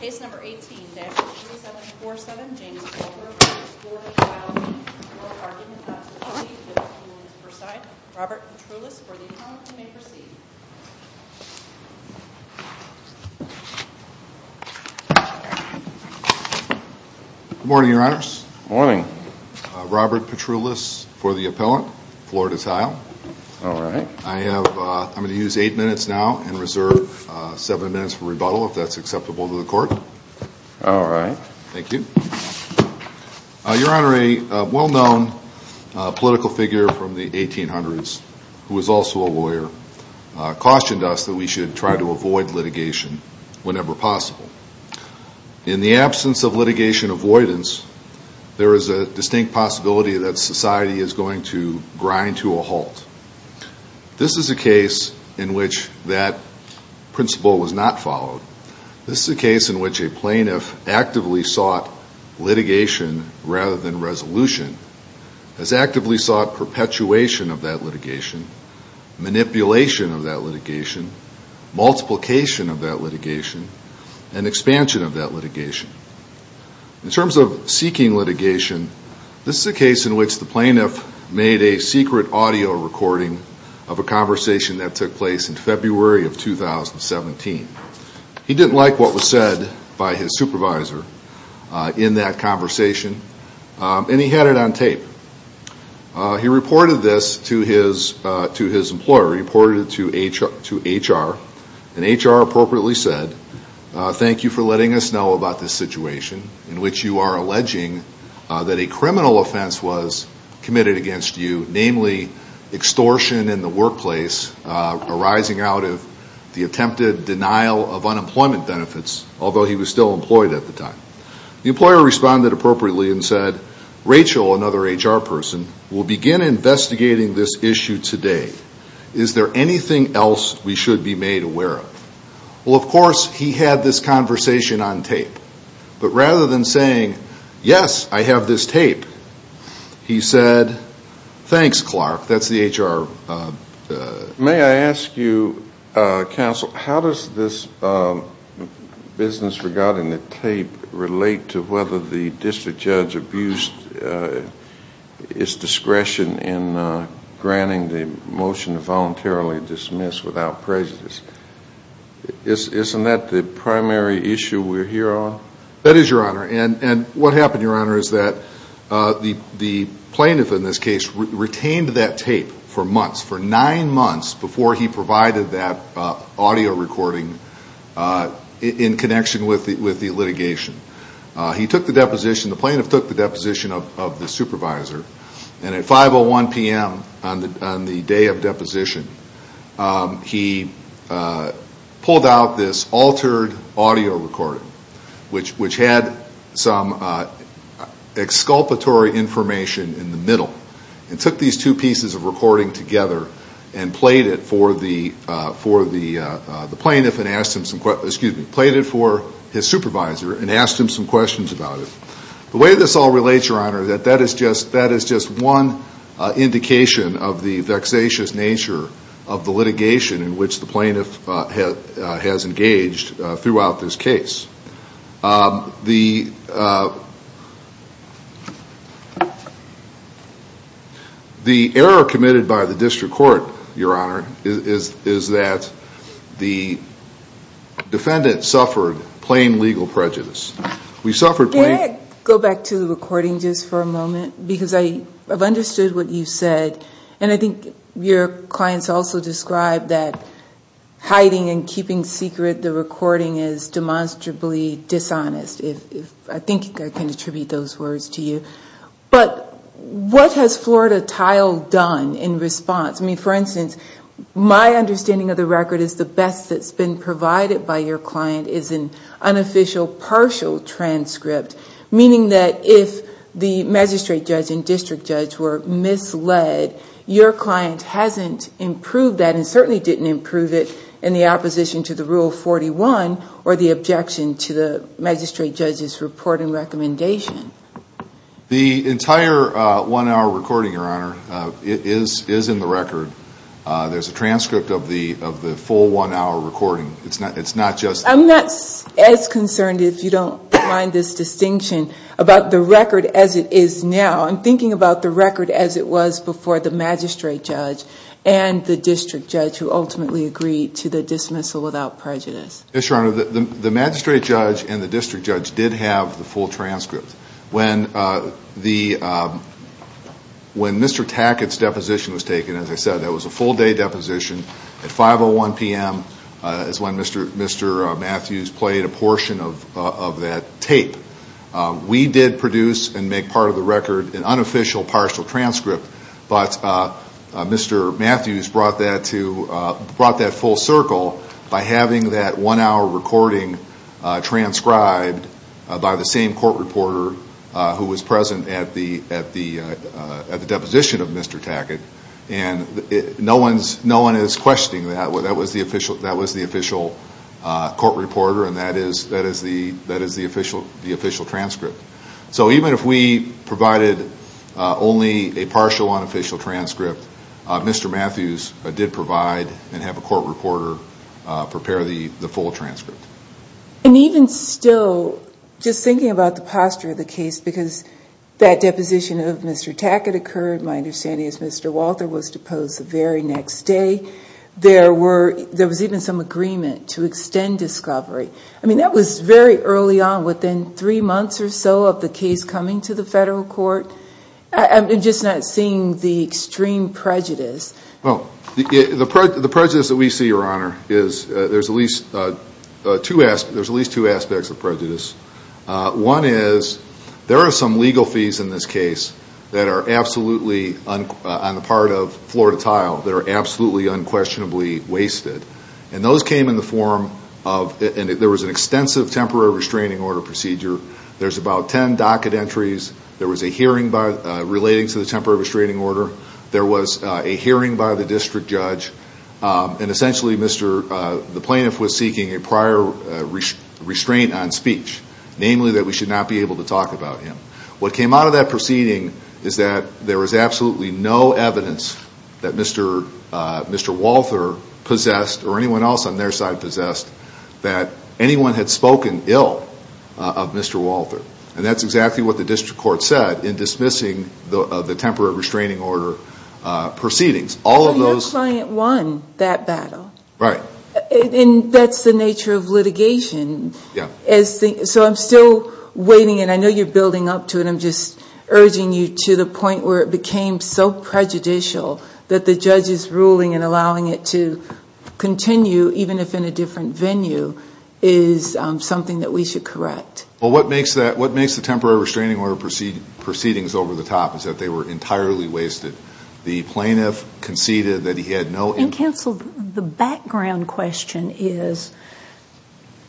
Case number 18-2747, James Walther v. Florida Tile Inc. For argument not to proceed, the appealant is preside. Robert Petroulis for the appellant, you may proceed. Good morning, Your Honors. Good morning. Robert Petroulis for the appellant, Florida Tile. All right. I'm going to use eight minutes now and reserve seven minutes for rebuttal if that's acceptable to the court. All right. Thank you. Your Honor, a well-known political figure from the 1800s who was also a lawyer cautioned us that we should try to avoid litigation whenever possible. In the absence of litigation avoidance, there is a distinct possibility that society is going to grind to a halt. This is a case in which that principle was not followed. This is a case in which a plaintiff actively sought litigation rather than resolution, has actively sought perpetuation of that litigation, manipulation of that litigation, multiplication of that litigation, and expansion of that litigation. In terms of seeking litigation, this is a case in which the plaintiff made a secret audio recording of a conversation that took place in February of 2017. He didn't like what was said by his supervisor in that conversation, and he had it on tape. He reported this to his employer. He reported it to HR, and HR appropriately said, Thank you for letting us know about this situation in which you are alleging that a criminal offense was committed against you, namely extortion in the workplace arising out of the attempted denial of unemployment benefits, although he was still employed at the time. The employer responded appropriately and said, Rachel, another HR person, will begin investigating this issue today. Is there anything else we should be made aware of? Well, of course, he had this conversation on tape. But rather than saying, Yes, I have this tape, he said, Thanks, Clark. That's the HR. May I ask you, Counsel, how does this business regarding the tape relate to whether the district judge abused his discretion in granting the motion to voluntarily dismiss without prejudice? Isn't that the primary issue we're here on? That is, Your Honor. And what happened, Your Honor, is that the plaintiff in this case retained that tape for months, for nine months, before he provided that audio recording in connection with the litigation. He took the deposition. The plaintiff took the deposition of the supervisor. And at 5.01 p.m. on the day of deposition, he pulled out this altered audio recording, which had some exculpatory information in the middle, and took these two pieces of recording together and played it for the plaintiff and asked him some questions, excuse me, played it for his supervisor and asked him some questions about it. The way this all relates, Your Honor, that that is just one indication of the vexatious nature of the litigation in which the plaintiff has engaged throughout this case. The error committed by the district court, Your Honor, is that the defendant suffered plain legal prejudice. We suffered plain... Can I go back to the recording just for a moment? Because I have understood what you said. And I think your clients also described that hiding and keeping secret the recording is demonstrably dishonest, if I think I can attribute those words to you. But what has Florida Tile done in response? I mean, for instance, my understanding of the record is the best that's been provided by your client is an unofficial partial transcript. Meaning that if the magistrate judge and district judge were misled, your client hasn't improved that and certainly didn't improve it in the opposition to the Rule 41 or the objection to the magistrate judge's report and recommendation. The entire one-hour recording, Your Honor, is in the record. There's a transcript of the full one-hour recording. It's not just... I'm not as concerned, if you don't mind this distinction, about the record as it is now. I'm thinking about the record as it was before the magistrate judge and the district judge who ultimately agreed to the dismissal without prejudice. Yes, Your Honor. The magistrate judge and the district judge did have the full transcript. When Mr. Tackett's deposition was taken, as I said, that was a full-day deposition. At 5.01 p.m. is when Mr. Matthews played a portion of that tape. We did produce and make part of the record an unofficial partial transcript. But Mr. Matthews brought that full circle by having that one-hour recording transcribed by the same court reporter who was present at the deposition of Mr. Tackett. No one is questioning that. That was the official court reporter, and that is the official transcript. So even if we provided only a partial unofficial transcript, Mr. Matthews did provide and have a court reporter prepare the full transcript. And even still, just thinking about the posture of the case, because that deposition of Mr. Tackett occurred, my understanding is Mr. Walter was deposed the very next day. There was even some agreement to extend discovery. I mean, that was very early on, within three months or so of the case coming to the federal court. I'm just not seeing the extreme prejudice. Well, the prejudice that we see, Your Honor, is there's at least two aspects of prejudice. One is there are some legal fees in this case that are absolutely on the part of floor to tile that are absolutely unquestionably wasted. And those came in the form of there was an extensive temporary restraining order procedure. There's about 10 docket entries. There was a hearing relating to the temporary restraining order. There was a hearing by the district judge. And essentially, the plaintiff was seeking a prior restraint on speech, namely that we should not be able to talk about him. What came out of that proceeding is that there was absolutely no evidence that Mr. Walter possessed or anyone else on their side possessed that anyone had spoken ill of Mr. Walter. And that's exactly what the district court said in dismissing the temporary restraining order proceedings. All of those. Your client won that battle. Right. And that's the nature of litigation. Yeah. So I'm still waiting, and I know you're building up to it. I'm just urging you to the point where it became so prejudicial that the judge's ruling and allowing it to continue, even if in a different venue, is something that we should correct. Well, what makes the temporary restraining order proceedings over-the-top is that they were entirely wasted. The plaintiff conceded that he had no – And, counsel, the background question is,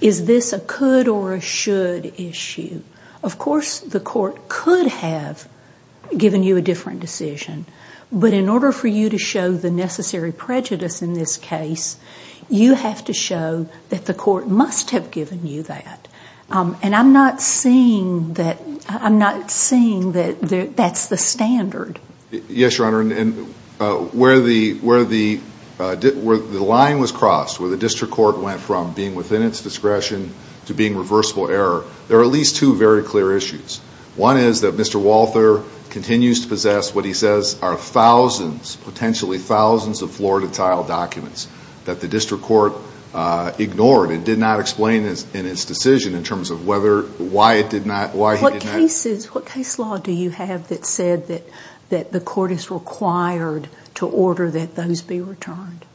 is this a could or a should issue? Of course, the court could have given you a different decision. But in order for you to show the necessary prejudice in this case, you have to show that the court must have given you that. And I'm not seeing that that's the standard. Yes, Your Honor. And where the line was crossed, where the district court went from being within its discretion to being reversible error, there are at least two very clear issues. One is that Mr. Walther continues to possess what he says are thousands, potentially thousands, of floor-to-tile documents that the district court ignored and did not explain in its decision in terms of whether – why it did not – why he did not – What cases – what case law do you have that said that the court is required to order that those be returned?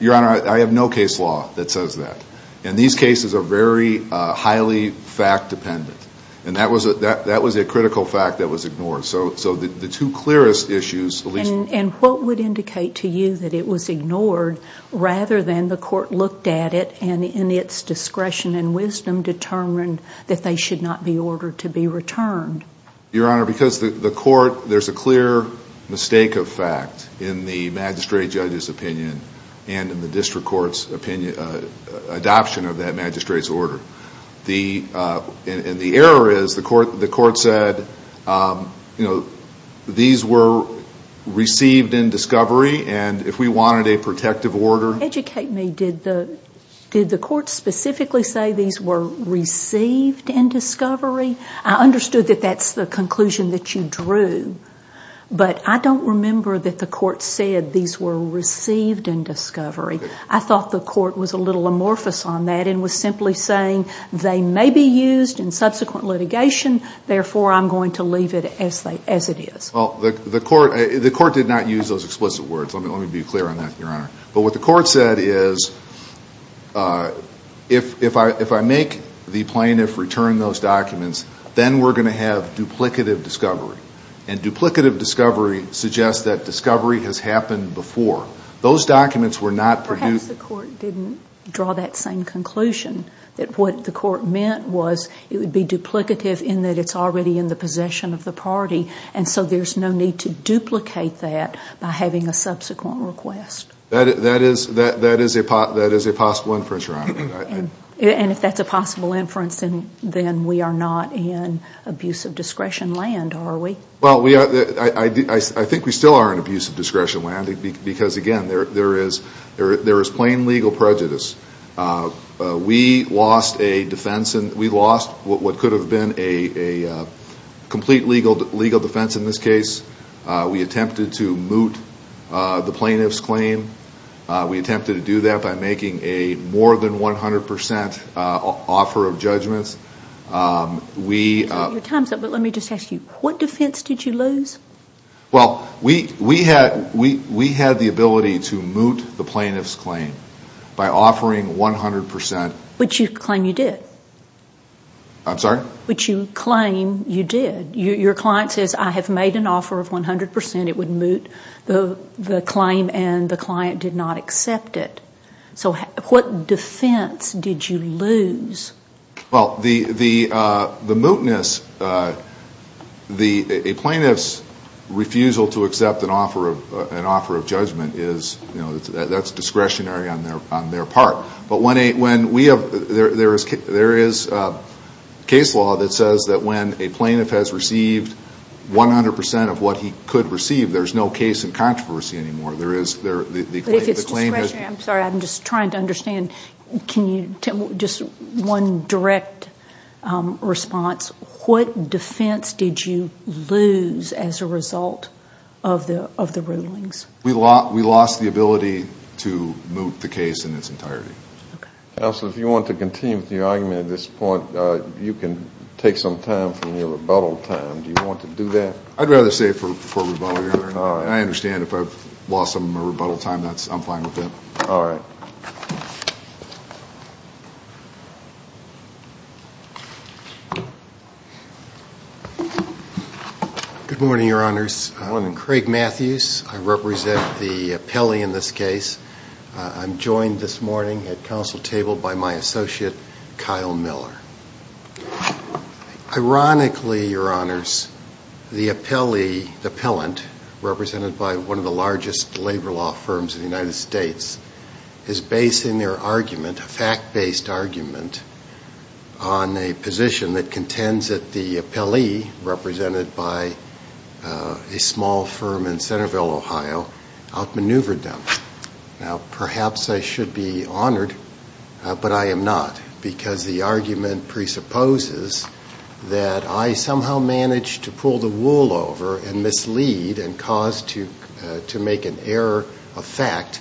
Your Honor, I have no case law that says that. And these cases are very highly fact-dependent. And that was a critical fact that was ignored. So the two clearest issues, at least – And what would indicate to you that it was ignored rather than the court looked at it and in its discretion and wisdom determined that they should not be ordered to be returned? Your Honor, because the court – there's a clear mistake of fact in the magistrate judge's opinion and in the district court's opinion – adoption of that magistrate's order. The – and the error is the court said, you know, these were received in discovery and if we wanted a protective order – Educate me. Did the court specifically say these were received in discovery? I understood that that's the conclusion that you drew, but I don't remember that the court said these were received in discovery. I thought the court was a little amorphous on that and was simply saying they may be used in subsequent litigation, therefore I'm going to leave it as it is. Well, the court – the court did not use those explicit words. But what the court said is if I make the plaintiff return those documents, then we're going to have duplicative discovery. And duplicative discovery suggests that discovery has happened before. Those documents were not produced – Perhaps the court didn't draw that same conclusion, that what the court meant was it would be duplicative in that it's already in the possession of the party, and so there's no need to duplicate that by having a subsequent request. That is a possible inference, Your Honor. And if that's a possible inference, then we are not in abuse of discretion land, are we? Well, I think we still are in abuse of discretion land because, again, there is plain legal prejudice. We lost a defense – we lost what could have been a complete legal defense in this case. We attempted to moot the plaintiff's claim. We attempted to do that by making a more than 100 percent offer of judgments. We – Your time's up, but let me just ask you, what defense did you lose? Well, we had the ability to moot the plaintiff's claim by offering 100 percent – Which you claim you did. I'm sorry? Which you claim you did. Your client says, I have made an offer of 100 percent. It would moot the claim, and the client did not accept it. So what defense did you lose? Well, the mootness – a plaintiff's refusal to accept an offer of judgment is – that's discretionary on their part. But when we have – there is case law that says that when a plaintiff has received 100 percent of what he could receive, there's no case in controversy anymore. There is – the claim is – If it's discretionary – I'm sorry, I'm just trying to understand. Can you – just one direct response. What defense did you lose as a result of the rulings? We lost the ability to moot the case in its entirety. Counsel, if you want to continue with your argument at this point, you can take some time from your rebuttal time. Do you want to do that? I'd rather save for rebuttal here. I understand if I've lost some of my rebuttal time, I'm fine with that. All right. Good morning, Your Honors. Good morning. I'm Craig Matthews. I represent the appellee in this case. I'm joined this morning at counsel table by my associate, Kyle Miller. Ironically, Your Honors, the appellee, the appellant, represented by one of the largest labor law firms in the United States, is basing their argument, a fact-based argument, on a position that contends that the appellee, represented by a small firm in Centerville, Ohio, outmaneuvered them. Now, perhaps I should be honored, but I am not, because the argument presupposes that I somehow managed to pull the wool over and mislead and cause to make an error affect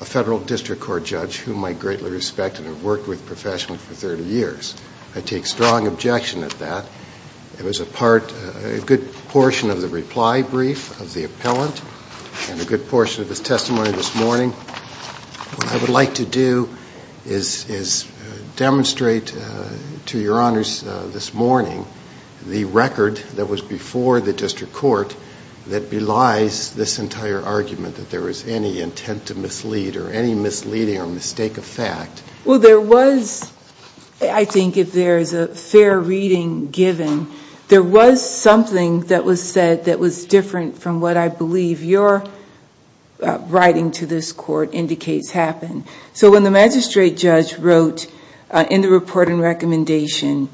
a federal district court judge, whom I greatly respect and have worked with professionally for 30 years. I take strong objection at that. It was a part, a good portion of the reply brief of the appellant and a good portion of his testimony this morning. What I would like to do is demonstrate to Your Honors this morning the record that was before the district court that belies this entire argument that there was any intent to mislead or any misleading or mistake of fact. Well, there was, I think if there is a fair reading given, there was something that was said that was different from what I believe your writing to this court indicates happened. So when the magistrate judge wrote in the report and recommendation,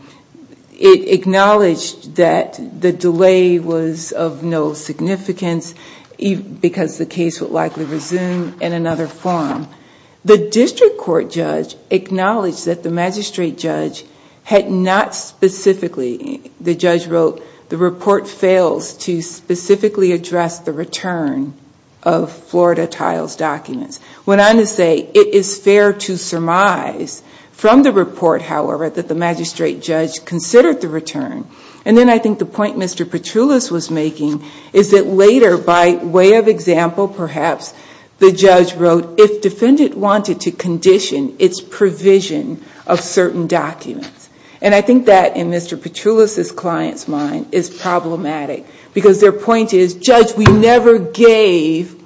it acknowledged that the delay was of no significance because the case would likely resume in another forum. The district court judge acknowledged that the magistrate judge had not specifically, the judge wrote, the report fails to specifically address the return of Florida Tiles documents. Went on to say it is fair to surmise from the report, however, that the magistrate judge considered the return. And then I think the point Mr. Petroulas was making is that later by way of example, perhaps the judge wrote if defendant wanted to condition its provision of certain documents. And I think that in Mr. Petroulas' client's mind is problematic because their point is, judge, we never gave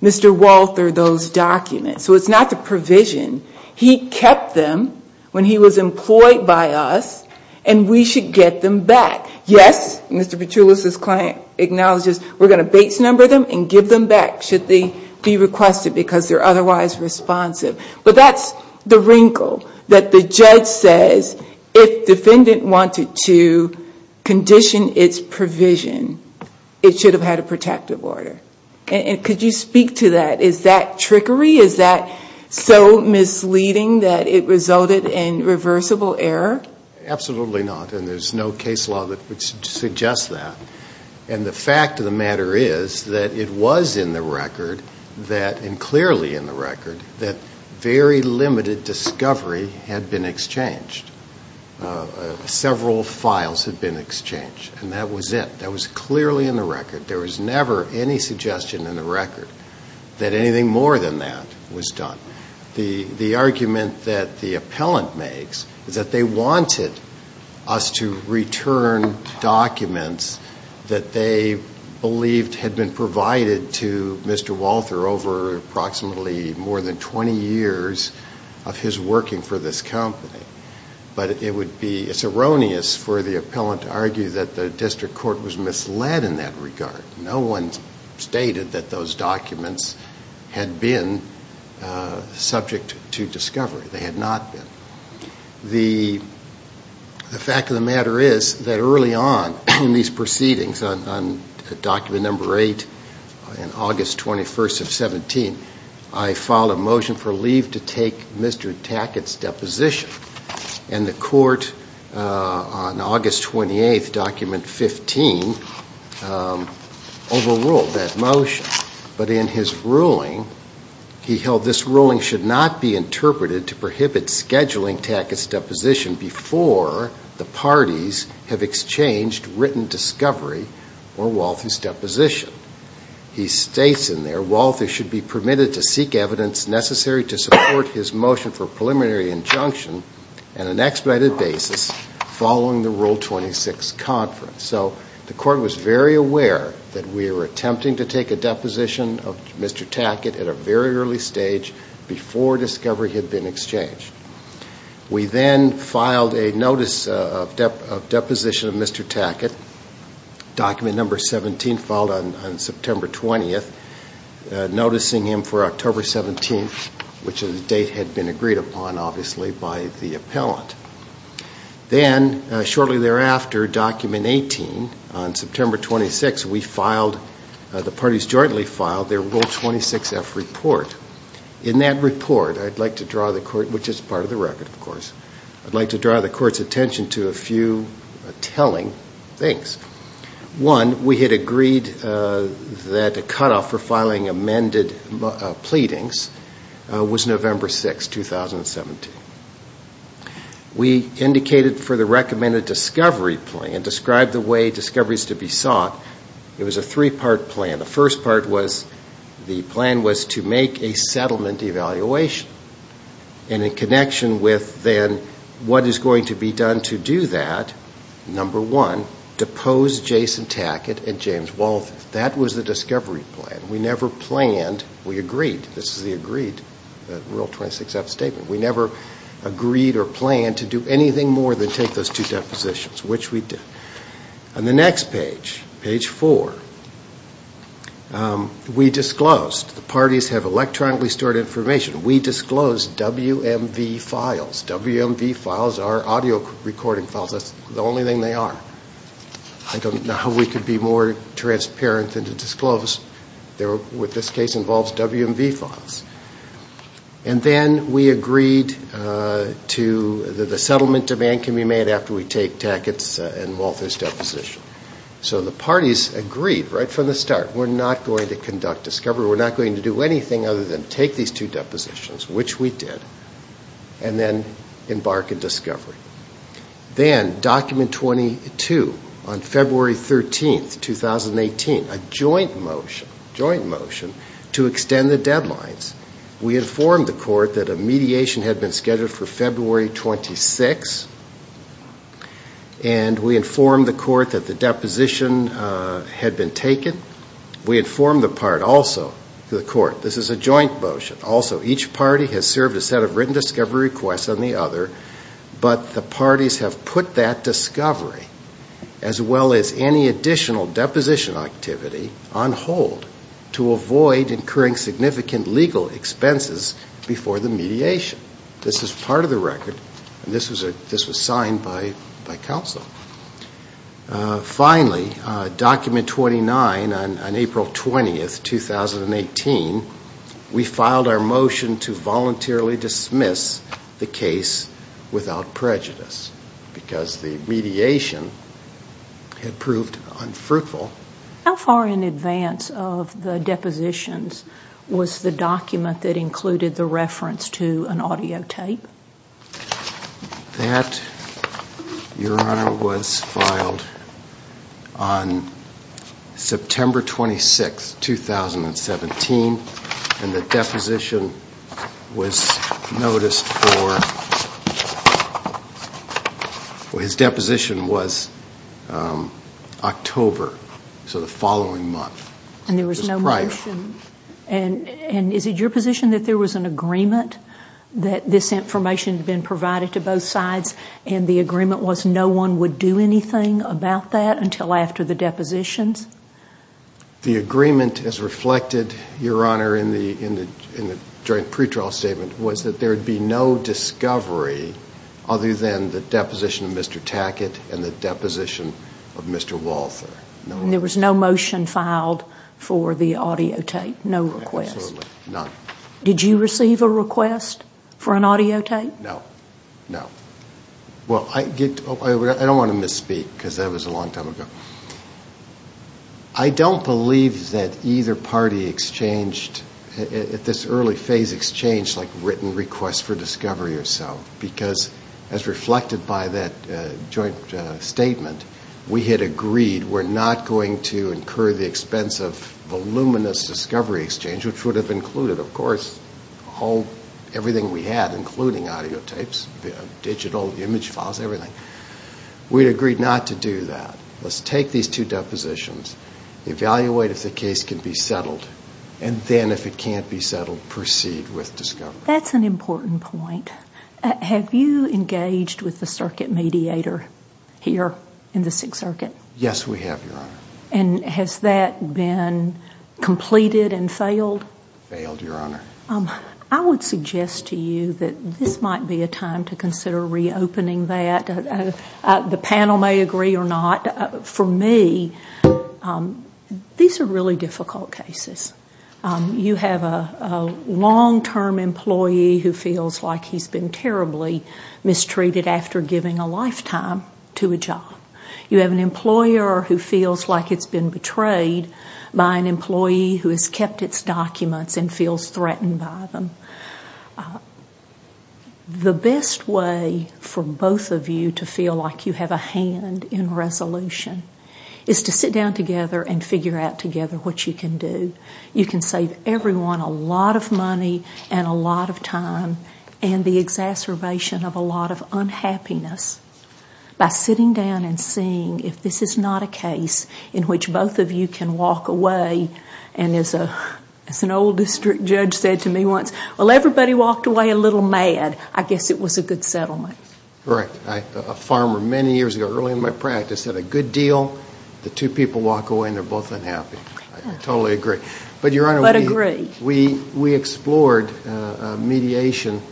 Mr. Walter those documents. So it's not the provision. He kept them when he was employed by us and we should get them back. Yes, Mr. Petroulas' client acknowledges we're going to base number them and give them back should they be requested because they're otherwise responsive. But that's the wrinkle that the judge says if defendant wanted to condition its provision, it should have had a protective order. And could you speak to that? Is that trickery? Is that so misleading that it resulted in reversible error? Absolutely not. And there's no case law that would suggest that. And the fact of the matter is that it was in the record, and clearly in the record, that very limited discovery had been exchanged. Several files had been exchanged. And that was it. That was clearly in the record. There was never any suggestion in the record that anything more than that was done. The argument that the appellant makes is that they wanted us to return documents that they believed had been provided to Mr. Walter over approximately more than 20 years of his working for this company. But it's erroneous for the appellant to argue that the district court was misled in that regard. No one stated that those documents had been subject to discovery. They had not been. The fact of the matter is that early on in these proceedings, on document number 8, on August 21st of 17, I filed a motion for leave to take Mr. Tackett's deposition. And the court on August 28th, document 15, overruled that motion. But in his ruling, he held this ruling should not be interpreted to prohibit scheduling Tackett's deposition before the parties have exchanged written discovery or Walther's deposition. He states in there, Walther should be permitted to seek evidence necessary to support his motion for preliminary injunction on an expedited basis following the Rule 26 conference. So the court was very aware that we were attempting to take a deposition of Mr. Tackett at a very early stage before discovery had been exchanged. We then filed a notice of deposition of Mr. Tackett, document number 17, filed on September 20th, noticing him for October 17th, which the date had been agreed upon, obviously, by the appellant. Then, shortly thereafter, document 18, on September 26th, we filed, the parties jointly filed their Rule 26F report. In that report, I'd like to draw the court, which is part of the record, of course, I'd like to draw the court's attention to a few telling things. One, we had agreed that a cutoff for filing amended pleadings was November 6th, 2017. We indicated for the recommended discovery plea and described the way discovery is to be sought. It was a three-part plan. The first part was the plan was to make a settlement evaluation, and in connection with then what is going to be done to do that, number one, depose Jason Tackett and James Walden. That was the discovery plan. We never planned. We agreed. This is the agreed Rule 26F statement. We never agreed or planned to do anything more than take those two depositions, which we did. On the next page, page four, we disclosed. The parties have electronically stored information. We disclosed WMV files. WMV files are audio recording files. That's the only thing they are. I don't know how we could be more transparent than to disclose. What this case involves, WMV files. And then we agreed that the settlement demand can be made after we take Tackett's and Walden's deposition. So the parties agreed right from the start, we're not going to conduct discovery. We're not going to do anything other than take these two depositions, which we did. And then embark in discovery. Then, document 22, on February 13, 2018, a joint motion to extend the deadlines. We informed the court that a mediation had been scheduled for February 26. And we informed the court that the deposition had been taken. We informed the court also. This is a joint motion. Also, each party has served a set of written discovery requests on the other, but the parties have put that discovery, as well as any additional deposition activity, on hold to avoid incurring significant legal expenses before the mediation. This is part of the record. This was signed by counsel. Finally, document 29, on April 20, 2018, we filed our motion to voluntarily dismiss the case without prejudice because the mediation had proved unfruitful. How far in advance of the depositions was the document that included the reference to an audio tape? That, Your Honor, was filed on September 26, 2017. And the deposition was noticed for, well, his deposition was October, so the following month. And there was no motion. It was prior. And is it your position that there was an agreement that this information had been provided to both sides and the agreement was no one would do anything about that until after the depositions? The agreement, as reflected, Your Honor, in the joint pretrial statement, was that there would be no discovery other than the deposition of Mr. Tackett and the deposition of Mr. Walther. And there was no motion filed for the audio tape? No request? Absolutely none. Did you receive a request for an audio tape? No. No. Well, I don't want to misspeak because that was a long time ago. I don't believe that either party exchanged, at this early phase, exchanged like written requests for discovery or so because, as reflected by that joint statement, we had agreed we're not going to incur the expense of voluminous discovery exchange, which would have included, of course, everything we had, including audio tapes, digital image files, everything. We had agreed not to do that. Let's take these two depositions, evaluate if the case can be settled, and then, if it can't be settled, proceed with discovery. That's an important point. Have you engaged with the circuit mediator here in the Sixth Circuit? Yes, we have, Your Honor. And has that been completed and failed? Failed, Your Honor. I would suggest to you that this might be a time to consider reopening that. The panel may agree or not. For me, these are really difficult cases. You have a long-term employee who feels like he's been terribly mistreated after giving a lifetime to a job. You have an employer who feels like it's been betrayed by an employee who has kept its documents and feels threatened by them. The best way for both of you to feel like you have a hand in resolution is to sit down together and figure out together what you can do. You can save everyone a lot of money and a lot of time and the exacerbation of a lot of unhappiness by sitting down and seeing if this is not a case in which both of you can walk away and, as an old district judge said to me once, well, everybody walked away a little mad. I guess it was a good settlement. Correct. A farmer many years ago, early in my practice, had a good deal. The two people walk away and they're both unhappy. I totally agree. But agree. But, Your Honor, we explored mediation,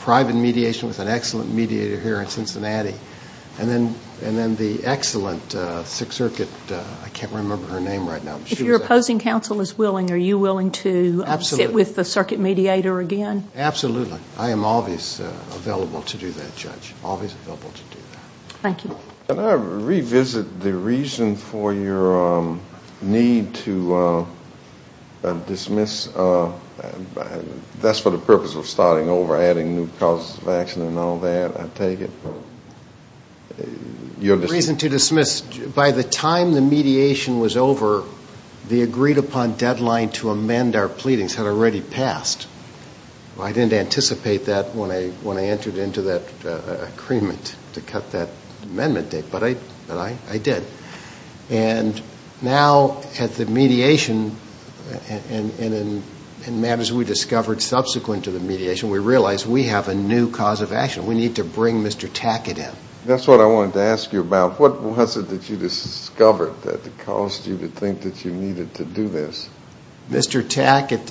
private mediation with an excellent mediator here in Cincinnati and then the excellent Sixth Circuit, I can't remember her name right now. If your opposing counsel is willing, are you willing to sit with the circuit mediator again? Absolutely. I am always available to do that, Judge, always available to do that. Thank you. Can I revisit the reason for your need to dismiss? That's for the purpose of starting over, adding new causes of action and all that, I take it. The reason to dismiss, by the time the mediation was over, the agreed-upon deadline to amend our pleadings had already passed. I didn't anticipate that when I entered into that agreement to cut that amendment date, but I did. And now at the mediation and matters we discovered subsequent to the mediation, we realized we have a new cause of action. We need to bring Mr. Tackett in. That's what I wanted to ask you about. What was it that you discovered that caused you to think that you needed to do this? Mr. Tackett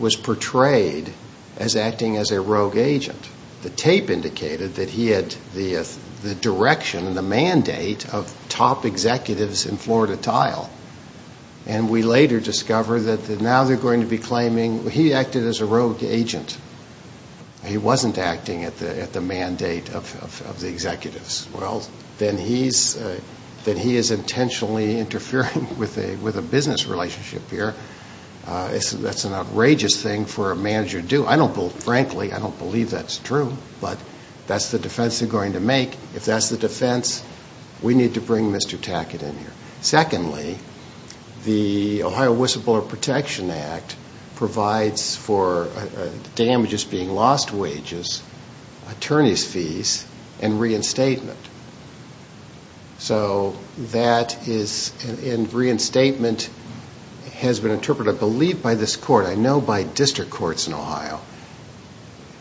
was portrayed as acting as a rogue agent. The tape indicated that he had the direction and the mandate of top executives in Florida Tile. And we later discovered that now they're going to be claiming he acted as a rogue agent. He wasn't acting at the mandate of the executives. Well, then he is intentionally interfering with a business relationship here. That's an outrageous thing for a manager to do. Frankly, I don't believe that's true, but that's the defense they're going to make. If that's the defense, we need to bring Mr. Tackett in here. Secondly, the Ohio Whistleblower Protection Act provides for damages being lost wages, attorney's fees, and reinstatement. So that is, and reinstatement has been interpreted, I believe by this court, I know by district courts in Ohio,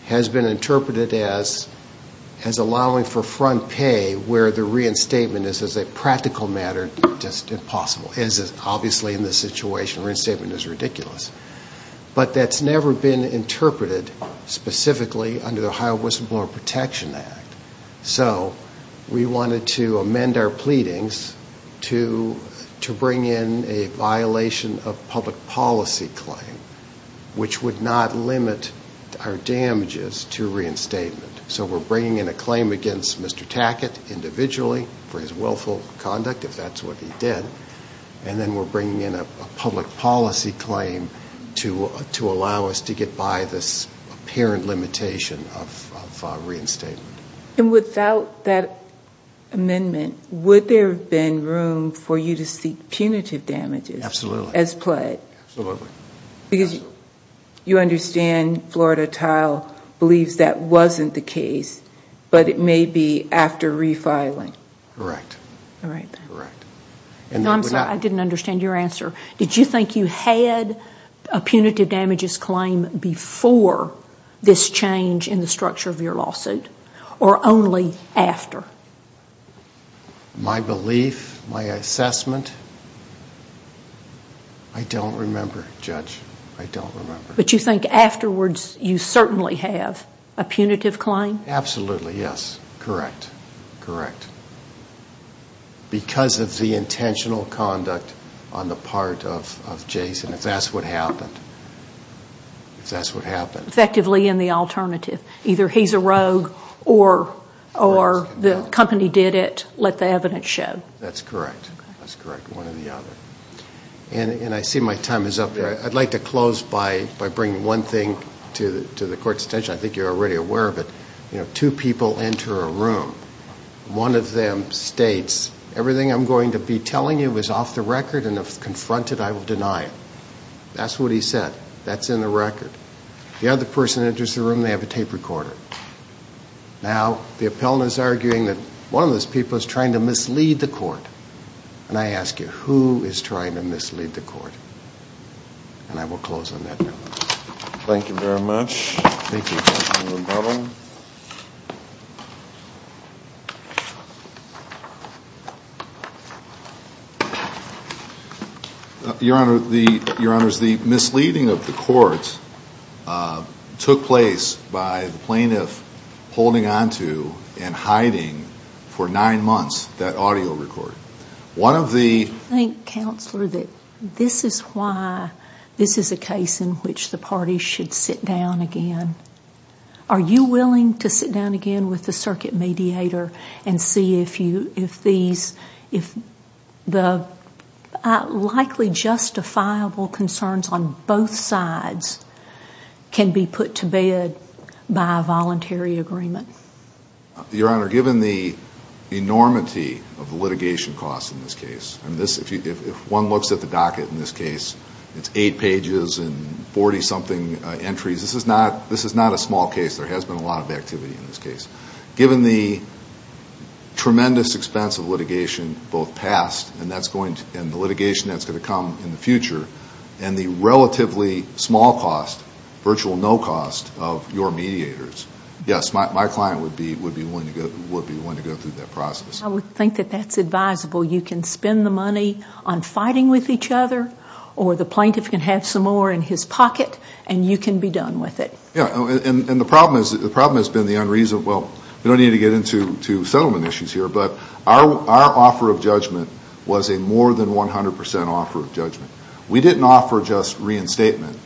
has been interpreted as allowing for front pay where the reinstatement is, as a practical matter, just impossible. Obviously, in this situation, reinstatement is ridiculous. But that's never been interpreted specifically under the Ohio Whistleblower Protection Act. So we wanted to amend our pleadings to bring in a violation of public policy claim, which would not limit our damages to reinstatement. So we're bringing in a claim against Mr. Tackett individually for his willful conduct, if that's what he did, and then we're bringing in a public policy claim to allow us to get by this apparent limitation of reinstatement. And without that amendment, would there have been room for you to seek punitive damages? Absolutely. As pled? Absolutely. Because you understand Florida Tile believes that wasn't the case, but it may be after refiling. Correct. All right then. Correct. I'm sorry, I didn't understand your answer. Did you think you had a punitive damages claim before this change in the structure of your lawsuit, or only after? My belief, my assessment, I don't remember, Judge. I don't remember. But you think afterwards you certainly have a punitive claim? Absolutely, yes. Correct. Correct. Because of the intentional conduct on the part of Jason, if that's what happened. If that's what happened. Effectively in the alternative. Either he's a rogue, or the company did it, let the evidence show. That's correct. That's correct. One or the other. And I see my time is up there. I'd like to close by bringing one thing to the Court's attention. I think you're already aware of it. Two people enter a room. One of them states, everything I'm going to be telling you is off the record, and if confronted, I will deny it. That's what he said. That's in the record. The other person enters the room. They have a tape recorder. Now, the appellant is arguing that one of those people is trying to mislead the Court. And I ask you, who is trying to mislead the Court? And I will close on that note. Thank you very much. Thank you, Judge. Judge McDonough. Thank you. Your Honor, the misleading of the Court took place by the plaintiff holding onto and hiding for nine months that audio recorder. One of the- I think, Counselor, that this is why this is a case in which the parties should sit down again. Are you willing to sit down again with the circuit mediator and see if the likely justifiable concerns on both sides can be put to bed by a voluntary agreement? Your Honor, given the enormity of litigation costs in this case, if one looks at the docket in this case, it's eight pages and 40-something entries. This is not a small case. There has been a lot of activity in this case. Given the tremendous expense of litigation, both past and the litigation that's going to come in the future, and the relatively small cost, virtual no cost, of your mediators, yes, my client would be willing to go through that process. I would think that that's advisable. You can spend the money on fighting with each other, or the plaintiff can have some more in his pocket, and you can be done with it. Yeah, and the problem has been the unreasonable-well, we don't need to get into settlement issues here, but our offer of judgment was a more than 100% offer of judgment. We didn't offer just reinstatement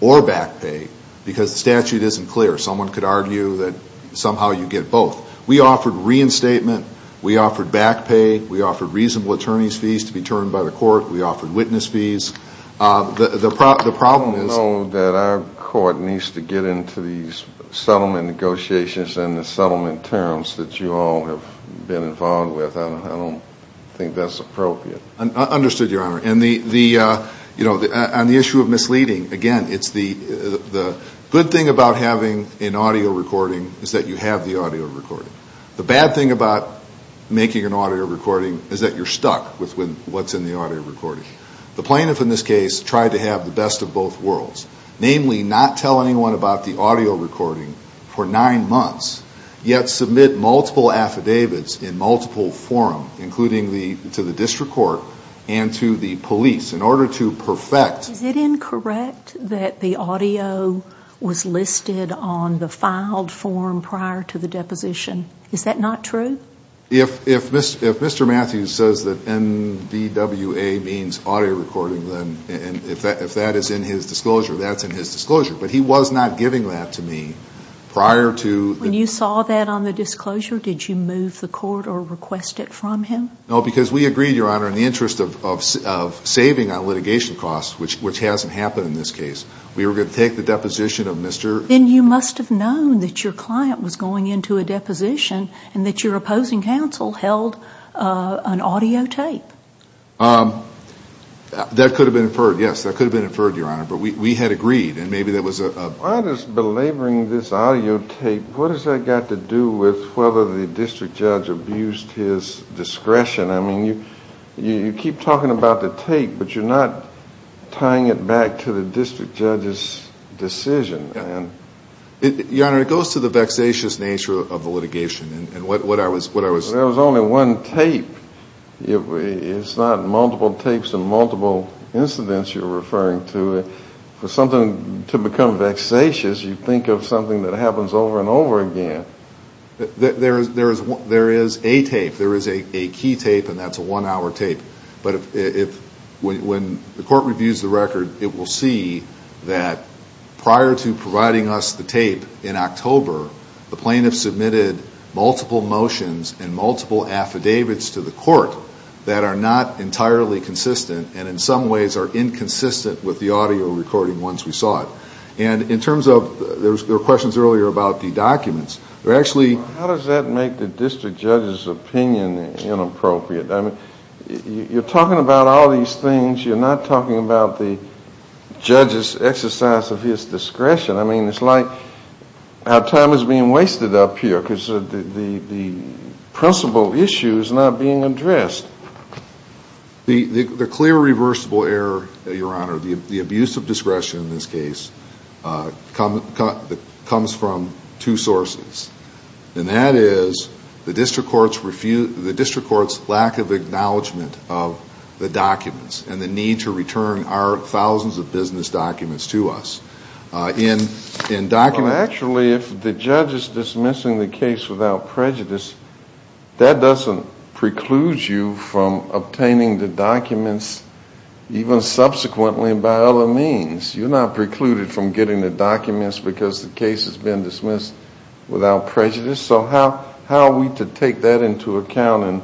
or back pay because the statute isn't clear. Someone could argue that somehow you get both. We offered reinstatement. We offered back pay. We offered reasonable attorney's fees to be termed by the court. We offered witness fees. The problem is- I don't know that our court needs to get into these settlement negotiations and the settlement terms that you all have been involved with. I don't think that's appropriate. Understood, Your Honor. On the issue of misleading, again, it's the good thing about having an audio recording is that you have the audio recording. The bad thing about making an audio recording is that you're stuck with what's in the audio recording. The plaintiff in this case tried to have the best of both worlds, namely not tell anyone about the audio recording for nine months, yet submit multiple affidavits in multiple forum, including to the district court and to the police, in order to perfect- Is it incorrect that the audio was listed on the filed form prior to the deposition? Is that not true? If Mr. Matthews says that NBWA means audio recording, then if that is in his disclosure, that's in his disclosure. But he was not giving that to me prior to- When you saw that on the disclosure, did you move the court or request it from him? No, because we agreed, Your Honor, in the interest of saving on litigation costs, which hasn't happened in this case, we were going to take the deposition of Mr.- Then you must have known that your client was going into a deposition and that your opposing counsel held an audio tape. That could have been inferred, yes, that could have been inferred, Your Honor, but we had agreed, and maybe that was a- Why does belaboring this audio tape, what has that got to do with whether the district judge abused his discretion? I mean, you keep talking about the tape, but you're not tying it back to the district judge's decision. Your Honor, it goes to the vexatious nature of the litigation, and what I was- But there was only one tape. It's not multiple tapes and multiple incidents you're referring to. For something to become vexatious, you think of something that happens over and over again. There is a tape. There is a key tape, and that's a one-hour tape. But when the court reviews the record, it will see that prior to providing us the tape in October, the plaintiff submitted multiple motions and multiple affidavits to the court that are not entirely consistent and in some ways are inconsistent with the audio recording once we saw it. And in terms of- there were questions earlier about the documents. How does that make the district judge's opinion inappropriate? I mean, you're talking about all these things. You're not talking about the judge's exercise of his discretion. I mean, it's like our time is being wasted up here because the principal issue is not being addressed. The clear reversible error, Your Honor, the abuse of discretion in this case comes from two sources, and that is the district court's lack of acknowledgement of the documents and the need to return our thousands of business documents to us. Well, actually, if the judge is dismissing the case without prejudice, that doesn't preclude you from obtaining the documents even subsequently by other means. You're not precluded from getting the documents because the case has been dismissed without prejudice. So how are we to take that into account in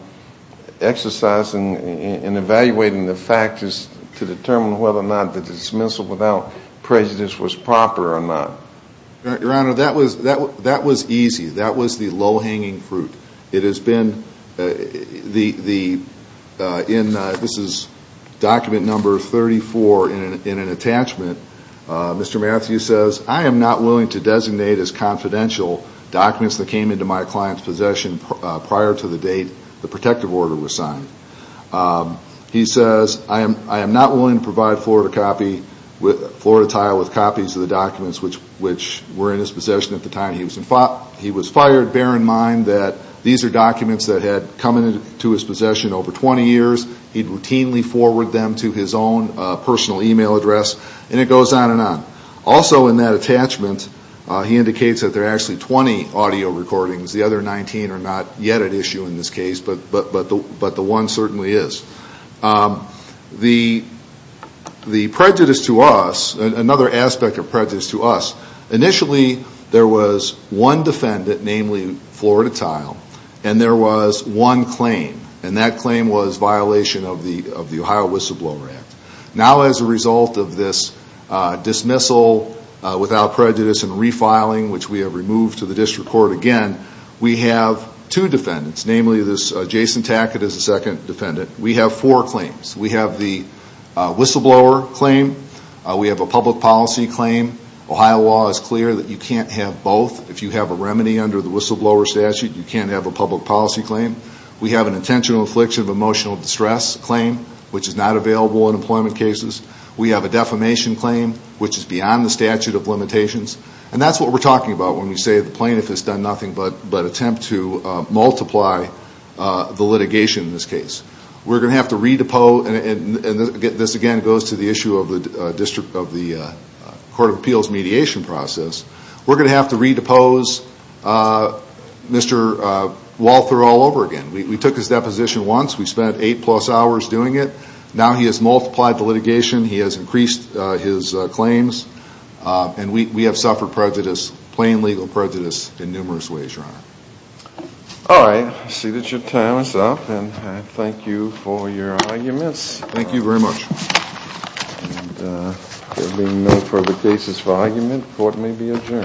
exercising and evaluating the factors to determine whether or not the dismissal without prejudice was proper or not? Your Honor, that was easy. That was the low-hanging fruit. It has been the- this is document number 34 in an attachment. Mr. Matthews says, I am not willing to designate as confidential documents that came into my client's possession prior to the date the protective order was signed. He says, I am not willing to provide Florida copy- Florida tile with copies of the documents which were in his possession at the time he was fired. Bear in mind that these are documents that had come into his possession over 20 years. He routinely forwarded them to his own personal e-mail address, and it goes on and on. Also in that attachment, he indicates that there are actually 20 audio recordings. The other 19 are not yet at issue in this case, but the one certainly is. The prejudice to us, another aspect of prejudice to us, initially there was one defendant, namely Florida tile, and there was one claim, and that claim was violation of the Ohio Whistleblower Act. Now as a result of this dismissal without prejudice and refiling, which we have removed to the district court again, we have two defendants, namely this Jason Tackett is the second defendant. We have four claims. We have the whistleblower claim. We have a public policy claim. Ohio law is clear that you can't have both. If you have a remedy under the whistleblower statute, you can't have a public policy claim. We have an intentional infliction of emotional distress claim, which is not available in employment cases. We have a defamation claim, which is beyond the statute of limitations, and that's what we're talking about when we say the plaintiff has done nothing but attempt to multiply the litigation in this case. We're going to have to redepose, and this again goes to the issue of the court of appeals mediation process. We're going to have to redepose Mr. Walther all over again. We took his deposition once. We spent eight-plus hours doing it. Now he has multiplied the litigation. He has increased his claims, and we have suffered prejudice, plain legal prejudice, in numerous ways, Your Honor. All right. I see that your time is up, and I thank you for your arguments. Thank you very much. And there being no further cases for argument, court may be adjourned.